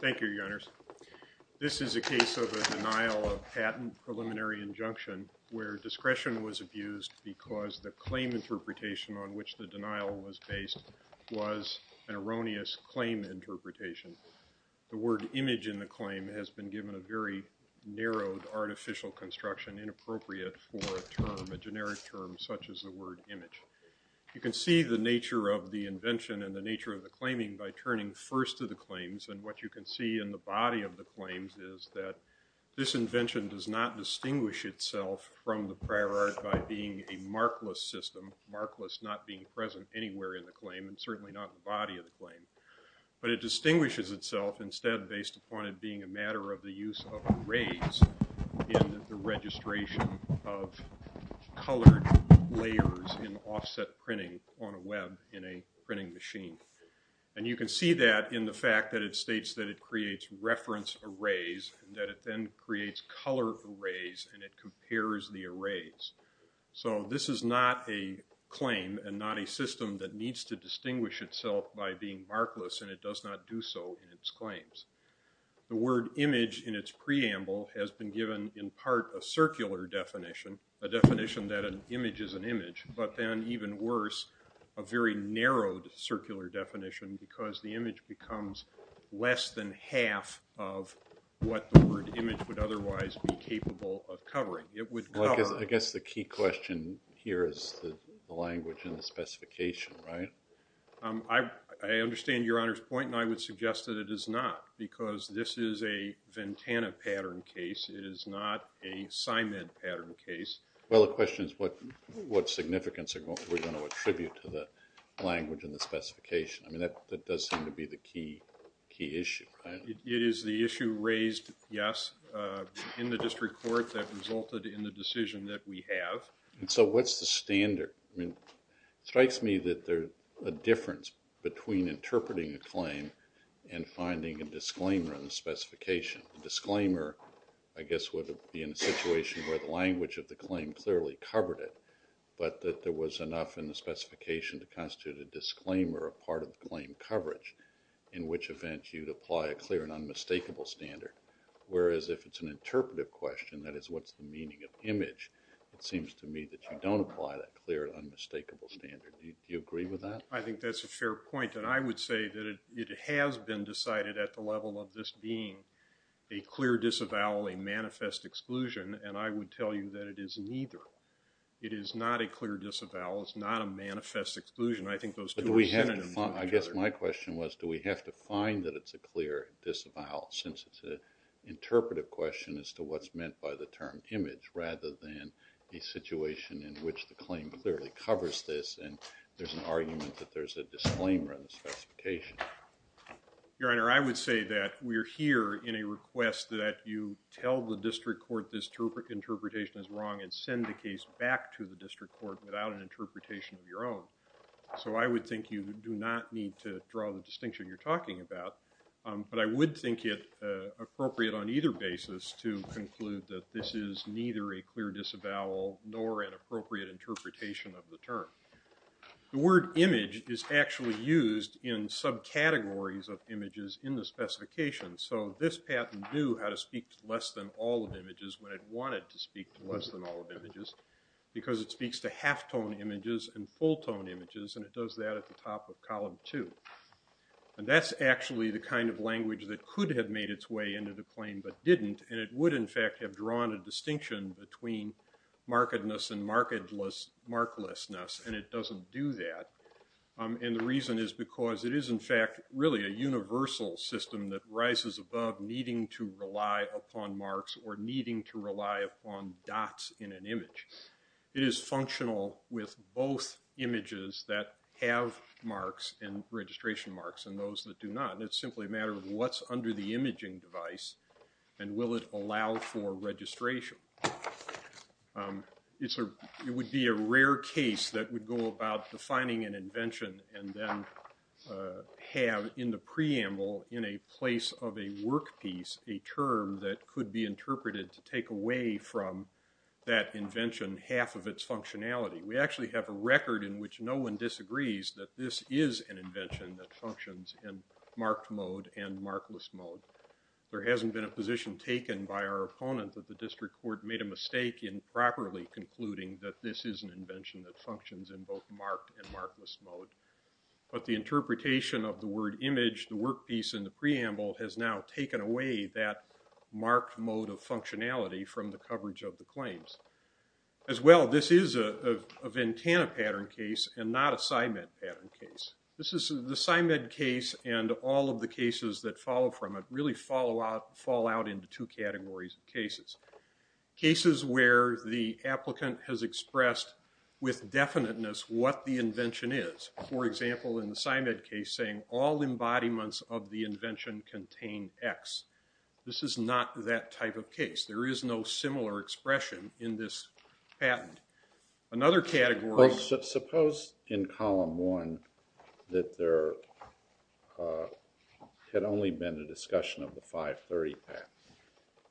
Thank you, Your Honors. This is a case of a denial of patent preliminary injunction where discretion was abused because the claim interpretation on which the denial was based was an erroneous claim interpretation. The word image in the claim has been given a very narrowed artificial construction inappropriate for a term, a generic term such as the word image. You can see the nature of the invention and the nature of the claiming by turning first to the claims and what you can see in the body of the claims is that this invention does not distinguish itself from the prior art by being a markless system, markless not being present anywhere in the claim and certainly not in the body of the claim. But it distinguishes itself instead based upon it being a matter of the use of arrays in the registration of colored layers in offset printing on a web in a printing machine. And you can see that in the fact that it states that it creates reference arrays and that it then creates color arrays and it compares the arrays. So this is not a claim and not a system that needs to distinguish itself by being markless and it does not do so in its claims. The word image in its preamble has been given in part a circular definition, a definition that an image is an image, but then even worse a very narrowed circular definition because the image becomes less than half of what the word image would otherwise be capable of covering. It would cover. I guess the key question here is the language and the specification, right? I understand your Honor's point and I would suggest that it is not because this is a Ventana pattern case. It is not a Simon pattern case. Well, the question is what significance are we going to attribute to the language and the specification? I mean that does seem to be the key issue. It is the issue raised, yes, in the district court that resulted in the decision that we have. So what is the standard? It strikes me that there is a difference between interpreting a claim and finding a disclaimer in the specification. A disclaimer, I guess, would be in a situation where the language of the claim clearly covered it, but that there was enough in the specification to constitute a disclaimer, a part of the claim coverage, in which event you would apply a clear and unmistakable standard. Whereas if it is an it seems to me that you don't apply that clear and unmistakable standard. Do you agree with that? I think that is a fair point and I would say that it has been decided at the level of this being a clear disavowal, a manifest exclusion, and I would tell you that it is neither. It is not a clear disavowal. It is not a manifest exclusion. I think those two are synonyms. I guess my question was do we have to find that it is a clear disavowal since it is an image meant by the term image rather than a situation in which the claim clearly covers this and there is an argument that there is a disclaimer in the specification. Your Honor, I would say that we are here in a request that you tell the district court this interpretation is wrong and send the case back to the district court without an interpretation of your own. So I would think you do not need to draw the distinction you conclude that this is neither a clear disavowal nor an appropriate interpretation of the term. The word image is actually used in subcategories of images in the specification. So this patent knew how to speak to less than all of images when it wanted to speak to less than all of images because it speaks to half tone images and full tone images and it does that at the top of column two. And that is actually the kind of language that could have made its way into the claim but didn't and it would in fact have drawn a distinction between markedness and marklessness and it doesn't do that. And the reason is because it is in fact really a universal system that rises above needing to rely upon marks or needing to rely upon dots in an image. It is functional with both images that have marks and registration marks and those that do not. It is simply a matter of what is under the imaging device and will it allow for registration. It would be a rare case that would go about defining an invention and then have in the preamble in a place of a work piece a term that could be interpreted to take away from that invention half of its functionality. We actually have a record in which no one disagrees that this is an invention that functions in marked mode and markless mode. There hasn't been a position taken by our opponent that the district court made a mistake in properly concluding that this is an invention that functions in both marked and markless mode. But the interpretation of the word image, the work piece and the preamble has now taken away that marked mode of functionality from the coverage of the pattern case and not a PsyMed pattern case. The PsyMed case and all of the cases that follow from it really fall out into two categories of cases. Cases where the applicant has expressed with definiteness what the invention is. For example, in the PsyMed case saying all embodiments of the invention contain X. This is not that type of case. There is no similar expression in this patent. Another category... Suppose in column one that there had only been a discussion of the 530 patent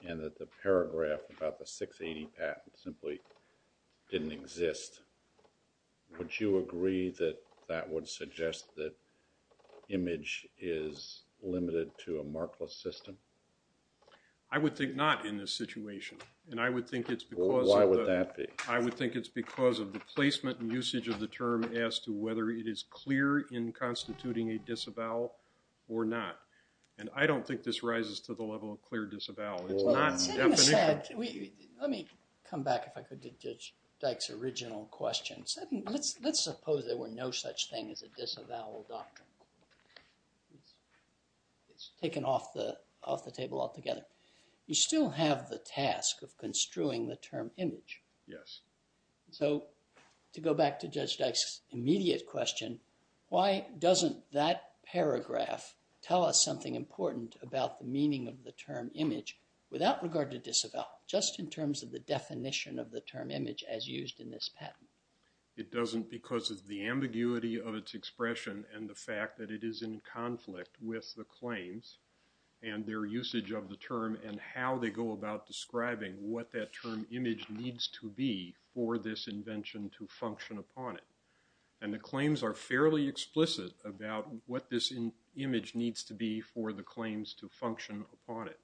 and that the paragraph about the 680 patent simply didn't exist. Would you agree that that would suggest that image is limited to a markless system? I would think not in this situation. Why would that be? I would think it's because of the placement and usage of the term as to whether it is clear in constituting a disavowal or not. I don't think this rises to the level of clear disavowal. Let me come back if I could to Judge Dyke's original question. Let's suppose there were no such thing as a disavowal doctrine. It's taken off the table altogether. You still have the task of construing the term image. So to go back to Judge Dyke's immediate question, why doesn't that paragraph tell us something important about the meaning of the term image without regard to disavowal, just in terms of the definition of the term image as used in this patent? It doesn't because of the ambiguity of its expression and the fact that it is in conflict with the claims and their usage of the term and how they go about describing what that term image needs to be for this invention to function upon it. And the claims are fairly explicit about what this image needs to be for the claims to function upon it.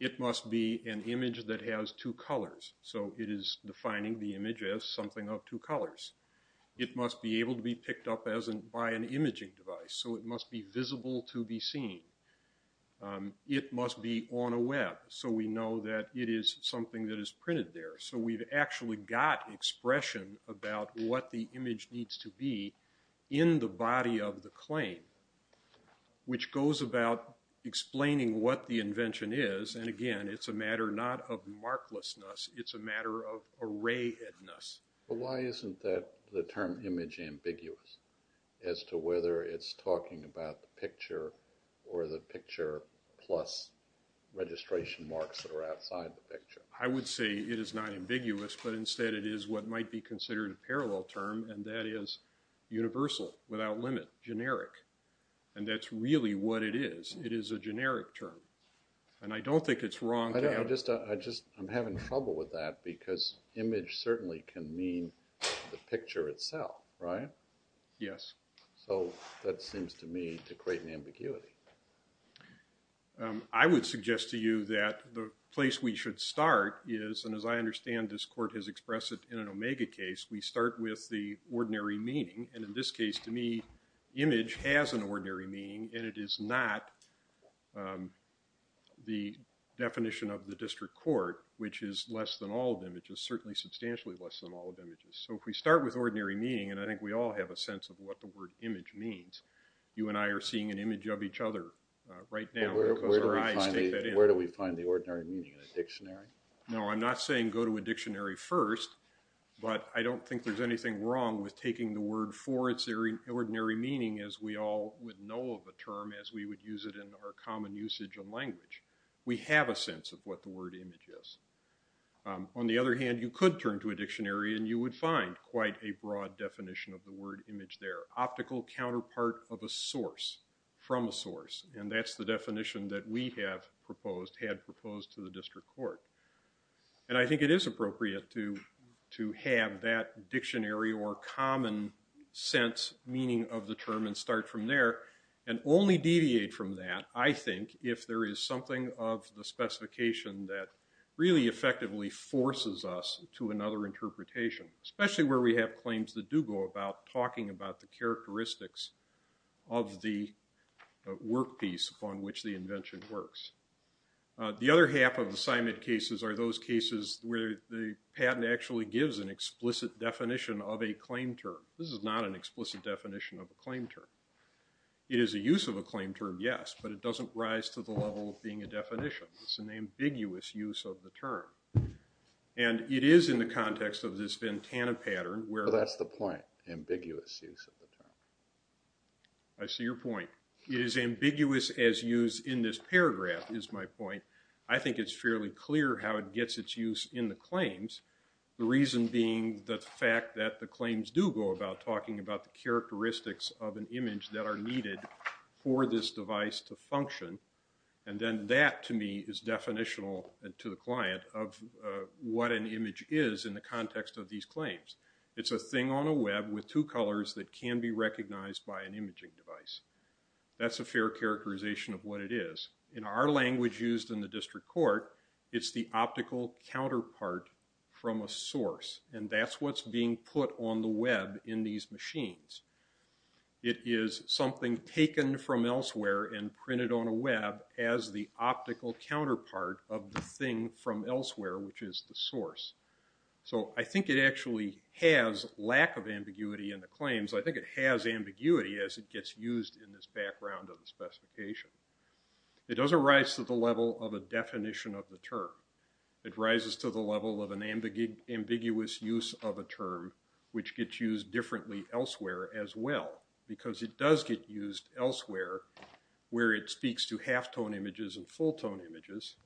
It must be an image that has two colors, so it is defining the image as something of two colors. It must be able to be picked up by an imaging device, so it must be visible to be seen. It must be on a web, so we know that it is something that is printed there. So we've actually got expression about what the image needs to be in the body of the claim, which goes about explaining what the invention is. And again, it's a matter not of marklessness, it's a matter of arrayedness. But why isn't the term image ambiguous as to whether it's talking about the picture or the picture plus registration marks that are outside the picture? I would say it is not ambiguous, but instead it is what might be considered a parallel term, and that is universal, without limit, generic. And that's really what it is. It is a generic term. And I don't think it's wrong to have... I'm having trouble with that, because image certainly can mean the picture itself, right? Yes. So that seems to me to create an ambiguity. I would suggest to you that the place we should start is, and as I understand this Court has the ordinary meaning, and in this case, to me, image has an ordinary meaning, and it is not the definition of the district court, which is less than all of images, certainly substantially less than all of images. So if we start with ordinary meaning, and I think we all have a sense of what the word image means, you and I are seeing an image of each other right now, because our eyes take that in. No, I'm not saying go to a dictionary first, but I don't think there's anything wrong with taking the word for its ordinary meaning, as we all would know of a term, as we would use it in our common usage of language. We have a sense of what the word image is. On the other hand, you could turn to a dictionary, and you would find quite a broad definition of the word image there. Optical counterpart of a source, from a source, and that's the word image. And I think it is appropriate to have that dictionary or common sense meaning of the term, and start from there, and only deviate from that, I think, if there is something of the specification that really effectively forces us to another interpretation, especially where we have claims that do go about talking about the characteristics of the work piece upon which the invention works. The other half of assignment cases are those cases where the patent actually gives an explicit definition of a claim term. This is not an explicit definition of a claim term. It is a use of a claim term, yes, but it doesn't rise to the level of being a definition. It's an ambiguous use of the term. And it is in the context of this Ventana pattern where- I see your point. It is ambiguous as used in this paragraph, is my point. I think it's fairly clear how it gets its use in the claims, the reason being the fact that the claims do go about talking about the characteristics of an image that are needed for this device to function. And then that, to me, is definitional to the client of what an image is in the context of these claims. It's a thing on a web with two colors that can be recognized by an imaging device. That's a fair characterization of what it is. In our language used in the district court, it's the optical counterpart from a source. And that's what's being put on the web in these machines. It is something taken from elsewhere and printed on a web as the source. I think it actually has lack of ambiguity in the claims. I think it has ambiguity as it gets used in this background of the specification. It doesn't rise to the level of a definition of the term. It rises to the level of an ambiguous use of a term which gets used differently elsewhere as well because it does get used elsewhere where it speaks to half-tone images and full-tone images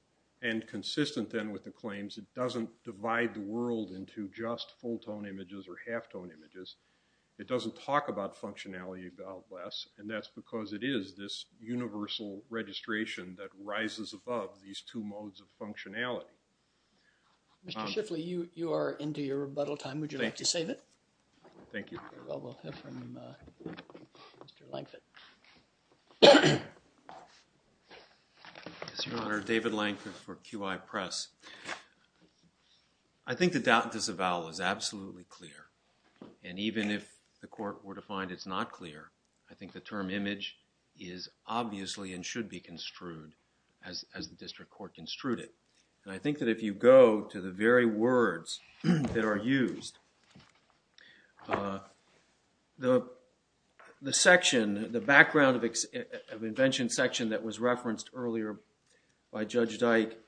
and consistent then with the claims, it doesn't divide the world into just full-tone images or half-tone images. It doesn't talk about functionality a lot less and that's because it is this universal registration that rises above these two modes of functionality. Mr. Shiffley, you are into your rebuttal time. Would you like to save it? Thank you. Well, we'll hear from Mr. Lankford. Mr. Your Honor, David Lankford for QI Press. I think the doubt disavowal is absolutely clear and even if the court were to find it's not clear, I think the term image is obviously and should be construed as the district court construed it. And I think that if you go to the very words that are used, the section, the background of invention section that was referenced earlier by Judge Dyke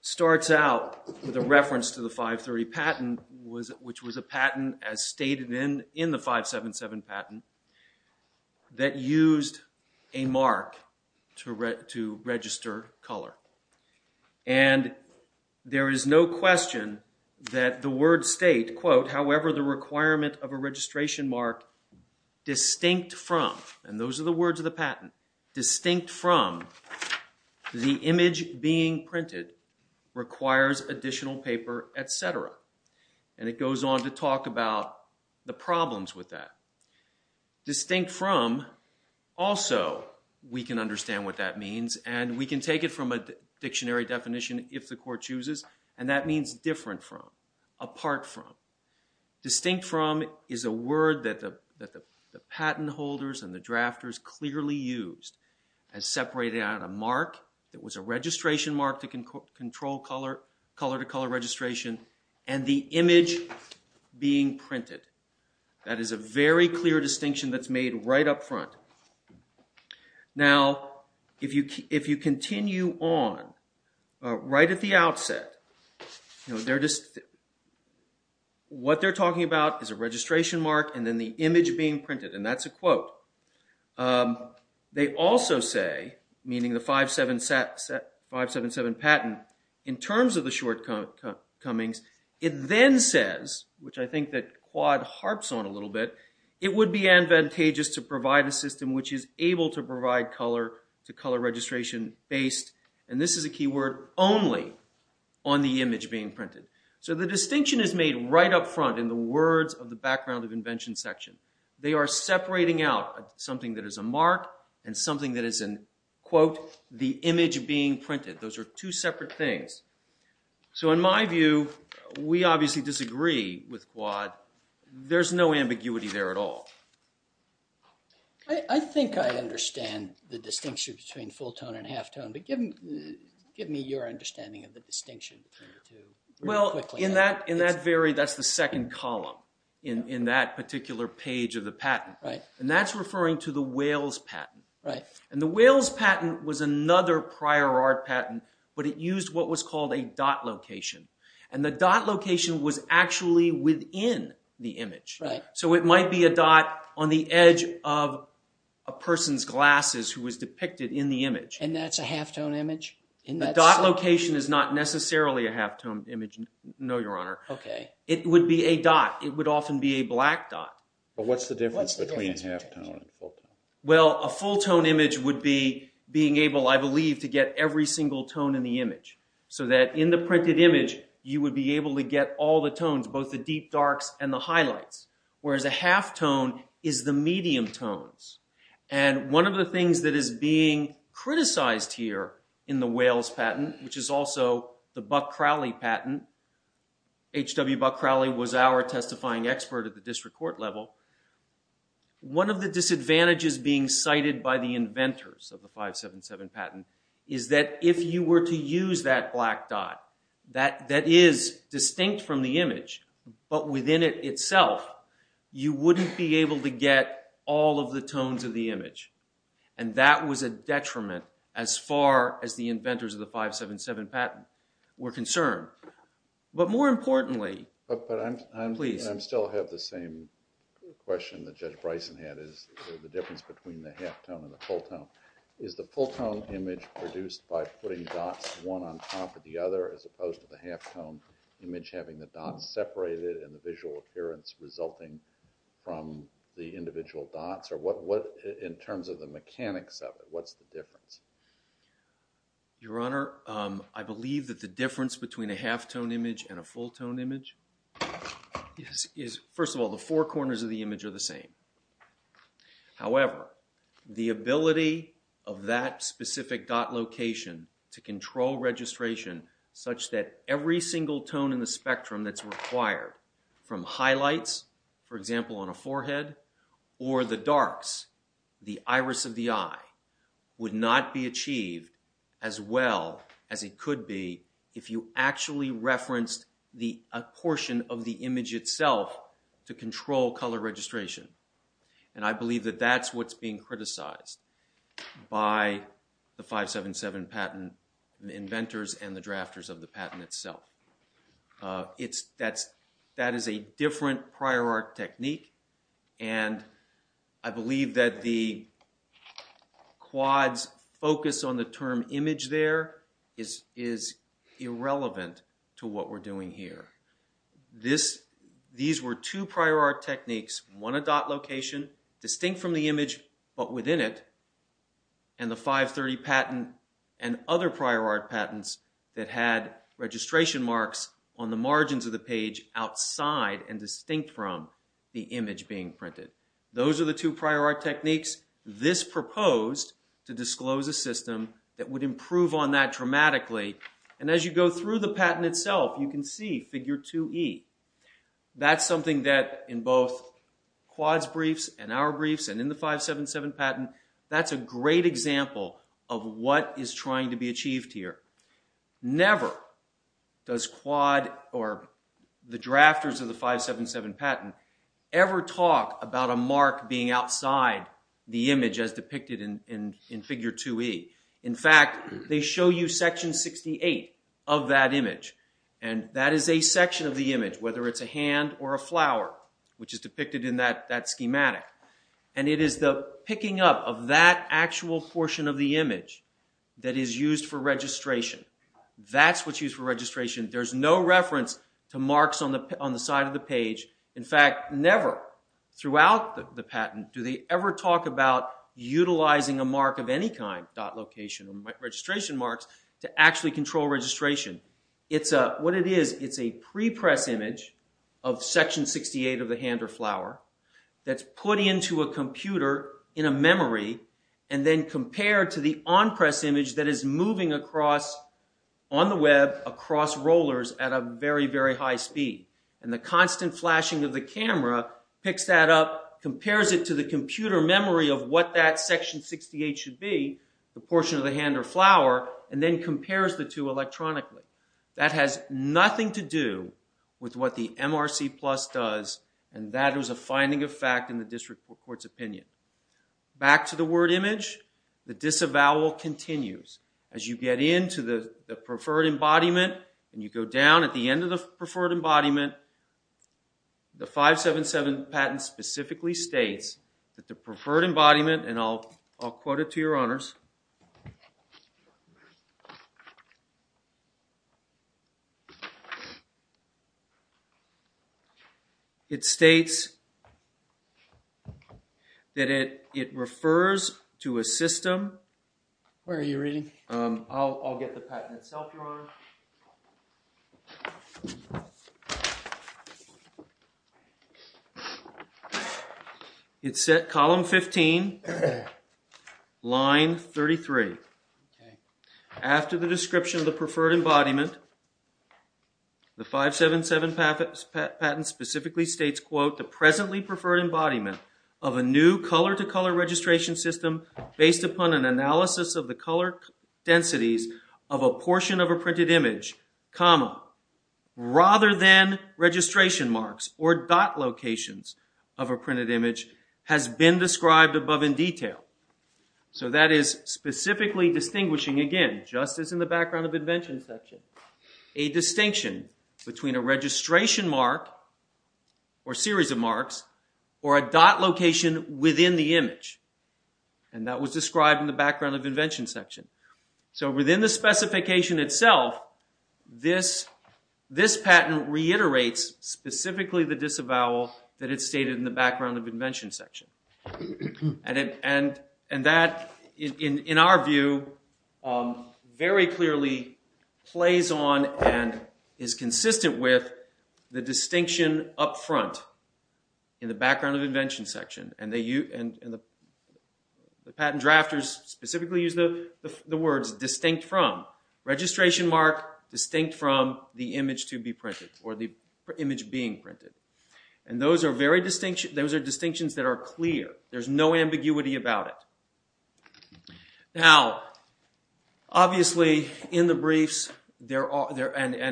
starts out with a reference to the 530 patent which was a patent as stated in the 577 patent that used a mark to register color. And there is no question that the word state, quote, however the requirement of a registration mark distinct from, and those are the words of the patent, distinct from the image being printed requires additional paper, etc. And it goes on to talk about the problems with that. Distinct from also we can understand what that means and we can take it from a dictionary definition if the court chooses and that means different from, apart from. Distinct from is a word that the patent holders and the drafters clearly used as separating out a mark that was a registration mark to control color to color registration and the image being printed. That is a very right at the outset. What they're talking about is a registration mark and then the image being printed and that's a quote. They also say, meaning the 577 patent, in terms of the shortcomings, it then says, which I think that Quad harps on a little bit, it would be advantageous to provide a system which is able to provide color to color registration based, and this is a key word, only on the image being printed. So the distinction is made right up front in the words of the background of invention section. They are separating out something that is a mark and something that is a quote, the image being printed. Those are two separate things. So in my view, we obviously disagree with Quad. There's no ambiguity there at all. I think I understand the distinction between full tone and half tone, but give me your understanding of the distinction between the two. Well, in that very, that's the second column in that particular page of the patent. That's referring to the Wales patent. The Wales patent was another prior art patent, but it used what was called a dot location. The dot location was actually within the image. So it might be a dot on the edge of a person's glasses who was depicted in the image. And that's a half tone image? The dot location is not necessarily a half tone image, no, your honor. It would be a dot. It would often be a black dot. But what's the difference between half tone and full tone? Well, a full tone image would be being able, I believe, to get every single tone in the image so that in the printed image, you would be able to get all the tones, both the deep and the deep. The half tone is the medium tones. And one of the things that is being criticized here in the Wales patent, which is also the Buck-Crowley patent, H.W. Buck-Crowley was our testifying expert at the district court level. One of the disadvantages being cited by the inventors of the 577 patent is that if you were to use that black dot that is distinct from the image, but within it itself, you wouldn't be able to get all of the tones of the image. And that was a detriment as far as the inventors of the 577 patent were concerned. But more importantly, please. But I still have the same question that Judge Bryson had, is the difference between the half tone and the full tone. Is the full tone image produced by putting dots one on top of the other as opposed to the half tone image having the dots separated and the visual appearance resulting from the individual dots? Or in terms of the mechanics of it, what's the difference? Your Honor, I believe that the difference between a half tone image and a full tone image is, first of all, the four corners of the image are the same. However, the ability of that specific dot location to control registration such that every single tone in the spectrum that's required from highlights, for example on a forehead, or the darks, the iris of the eye, would not be achieved as well as it could be if you actually referenced the portion of the image itself to control color registration. And I believe that that's what's being criticized. By the 577 patent inventors and the drafters of the patent itself. That is a different prior art technique and I believe that the quads focus on the term image there is irrelevant to what we're doing here. These were two prior art techniques, one a dot location distinct from the image but within it, and the 530 patent and other prior art patents that had registration marks on the margins of the page outside and distinct from the image being printed. Those are the two prior art techniques. This proposed to disclose a system that would improve on that dramatically. And as you go through the patent itself, you can see figure 2E. That's something that in both quads briefs and our briefs and in the 577 patent, that's a great example of what is trying to be achieved here. Never does quad or the drafters of the 577 patent ever talk about a mark being outside the image as depicted in figure 2E. In fact, they show you section 68 of that image. And that is a section of the image, whether it's a hand or a flower, which is depicted in that schematic. And it is the picking up of that actual portion of the image that is used for registration. That's what's used for registration. There's no reference to marks on the side of the page. In fact, never throughout the registration marks to actually control registration. What it is, it's a pre-press image of section 68 of the hand or flower that's put into a computer in a memory and then compared to the on-press image that is moving across on the web, across rollers at a very, very high speed. And the constant flashing of the camera picks that up, compares it to the computer memory of what that section 68 should be, the portion of the hand or flower, and then compares the two electronically. That has nothing to do with what the MRC Plus does and that is a finding of fact in the district court's opinion. Back to the word image, the disavowal continues. As you get into the preferred embodiment and you go down at the end of the preferred embodiment, and I'll quote it to your honors, it states that it refers to a system. Where are you reading? I'll get the patent itself, your honor. It's set column 15, line 33. After the description of the preferred embodiment, the 577 patent specifically states, quote, the presently preferred embodiment of a new color-to-color registration system based upon an analysis of the color densities of a portion of a printed image, comma, rather than registration marks or dot locations of a printed image has been described above in detail. So that is specifically distinguishing, again, just as in the background of invention section, a distinction between a registration mark or series of marks or a dot location within the image. And that was described in the background of invention section. So within the specification itself, this patent reiterates specifically the disavowal that is stated in the background of invention section. And the distinction up front in the background of invention section, and the patent drafters specifically use the words distinct from. Registration mark distinct from the image to be printed or the image being printed. And those are distinctions that are clear. There's no ambiguity about it. Now, obviously, in the briefs and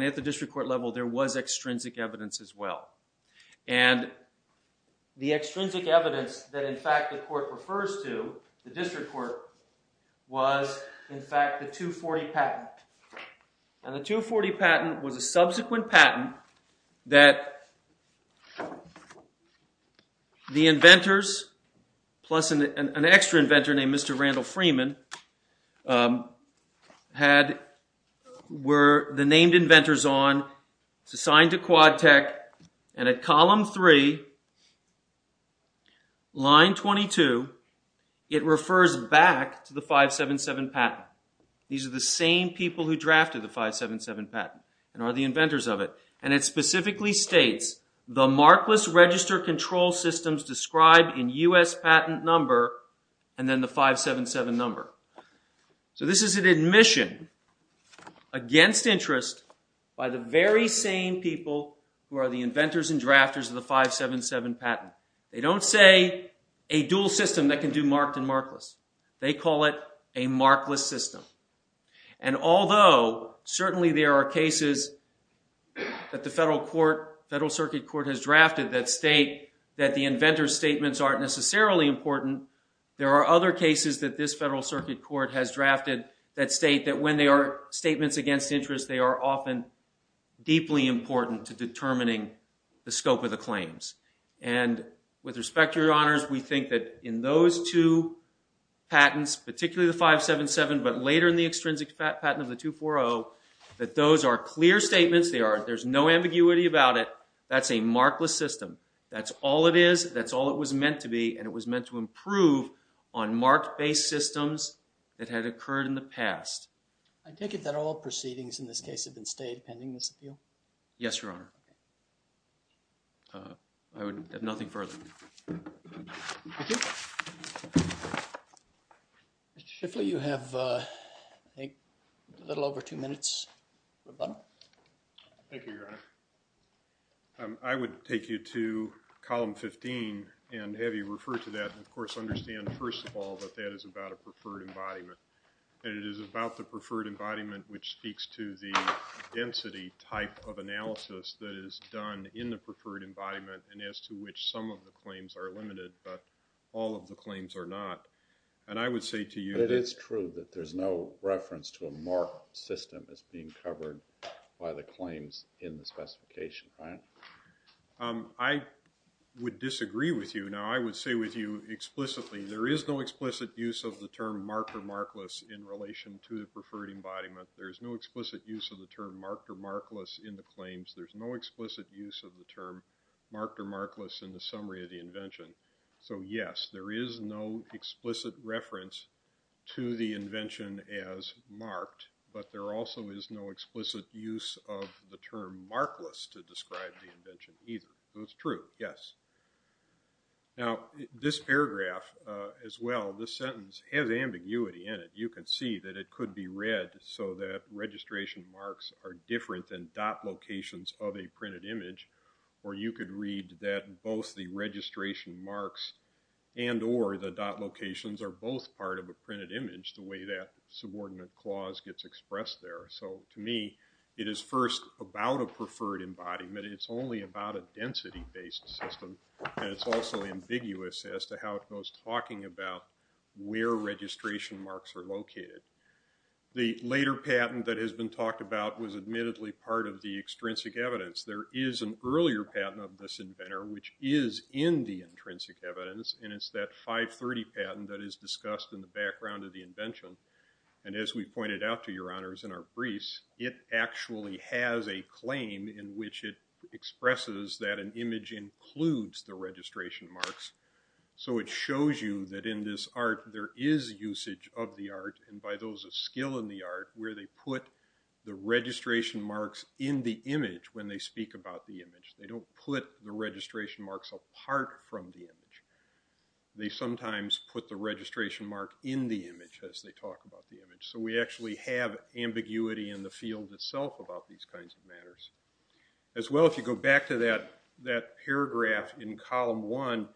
at the district court level, there was extrinsic evidence as well. And the extrinsic evidence that, in fact, the court refers to, the district court, was, in fact, the 240 patent. And the 240 patent was a subsequent patent that the inventors, plus an extra inventor named Mr. Randall Freeman, were the named inventors on. It's assigned to QuadTech. And at column three, line 22, it refers back to the 577 patent. These are the same people who drafted the 577 patent and are the inventors of it. And it specifically states, the markless register control systems described in U.S. patent number and then the 577 number. So this is an admission against interest by the very same people who are the inventors and drafters of the 577 patent. They don't say a dual system that can do marked and markless. They call it a markless system. And although, certainly, there are cases that the Federal Circuit Court has drafted that state that the inventor's statements aren't necessarily important, there are other cases that this Federal Circuit Court has drafted that state that when they are statements against interest, they are often deeply important to determining the scope of the claims. And with respect to your honors, we think that in those two patents, particularly the 577, but later in the extrinsic patent of the 240, that those are clear statements. They are. There's no ambiguity about it. That's a markless system. That's all it is. That's all it was meant to be. And it was meant to improve on marked-based systems that had occurred in the past. I take it that all proceedings in this case have been stayed pending this appeal? Yes, your honor. I would have nothing further. Thank you. Mr. Shiffley, you have a little over two minutes. Thank you, your honor. I would take you to column 15 and have you refer to that and, of course, understand, first of all, that that is about a preferred embodiment. And it is about the preferred embodiment which speaks to the density type of analysis that is done in the preferred embodiment and as to which some of the claims are limited, but all of the claims are not. And I would say to you that it's true that there's no reference to a marked system as being covered by the claims in the specification. I would disagree with you. Now, I would say with you explicitly, there is no explicit use of the term marked or markless in relation to the preferred embodiment. There's no explicit use of the term marked or markless in the claims. There's no explicit use of the term marked or markless in the summary of the invention. So, yes, there is no explicit reference to the invention as marked, but there also is no explicit use of the term markless to describe the invention either. So, it's true, yes. Now, this paragraph as well, this sentence, has ambiguity in it. You can see that it could be read so that registration marks are different than dot locations of a printed image or you could read that both the registration marks and or the dot locations are both part of a printed image the way that subordinate clause gets expressed there. So, to me, it is first about a preferred embodiment. It's only about a density-based system and it's also ambiguous as to how it goes talking about where registration marks are located. The later patent that has been talked about was admittedly part of the evidence and it's that 530 patent that is discussed in the background of the invention. And as we pointed out to your honors in our briefs, it actually has a claim in which it expresses that an image includes the registration marks. So, it shows you that in this art there is usage of the art and by those of skill in the art where they put the registration marks in the image when they speak about the image. They don't put the registration marks apart from the image. They sometimes put the registration mark in the image as they talk about the image. So, we actually have ambiguity in the field itself about these kinds of matters. As well, if you go back to that paragraph in column one,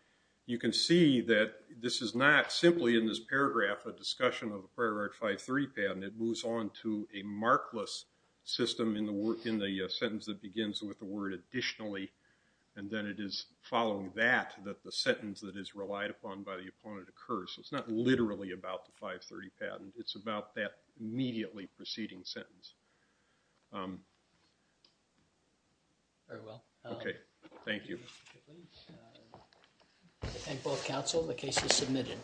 you can see that this is not simply in this paragraph a discussion of the prior art 5.3 patent. It moves on to a markless system in the sentence that begins with the word additionally and then it is following that that the sentence that is relied upon by the opponent occurs. So, it's not literally about the 530 patent. It's about that immediately preceding sentence. Um. Very well. Okay. Thank you. And both counsel, the case is submitted.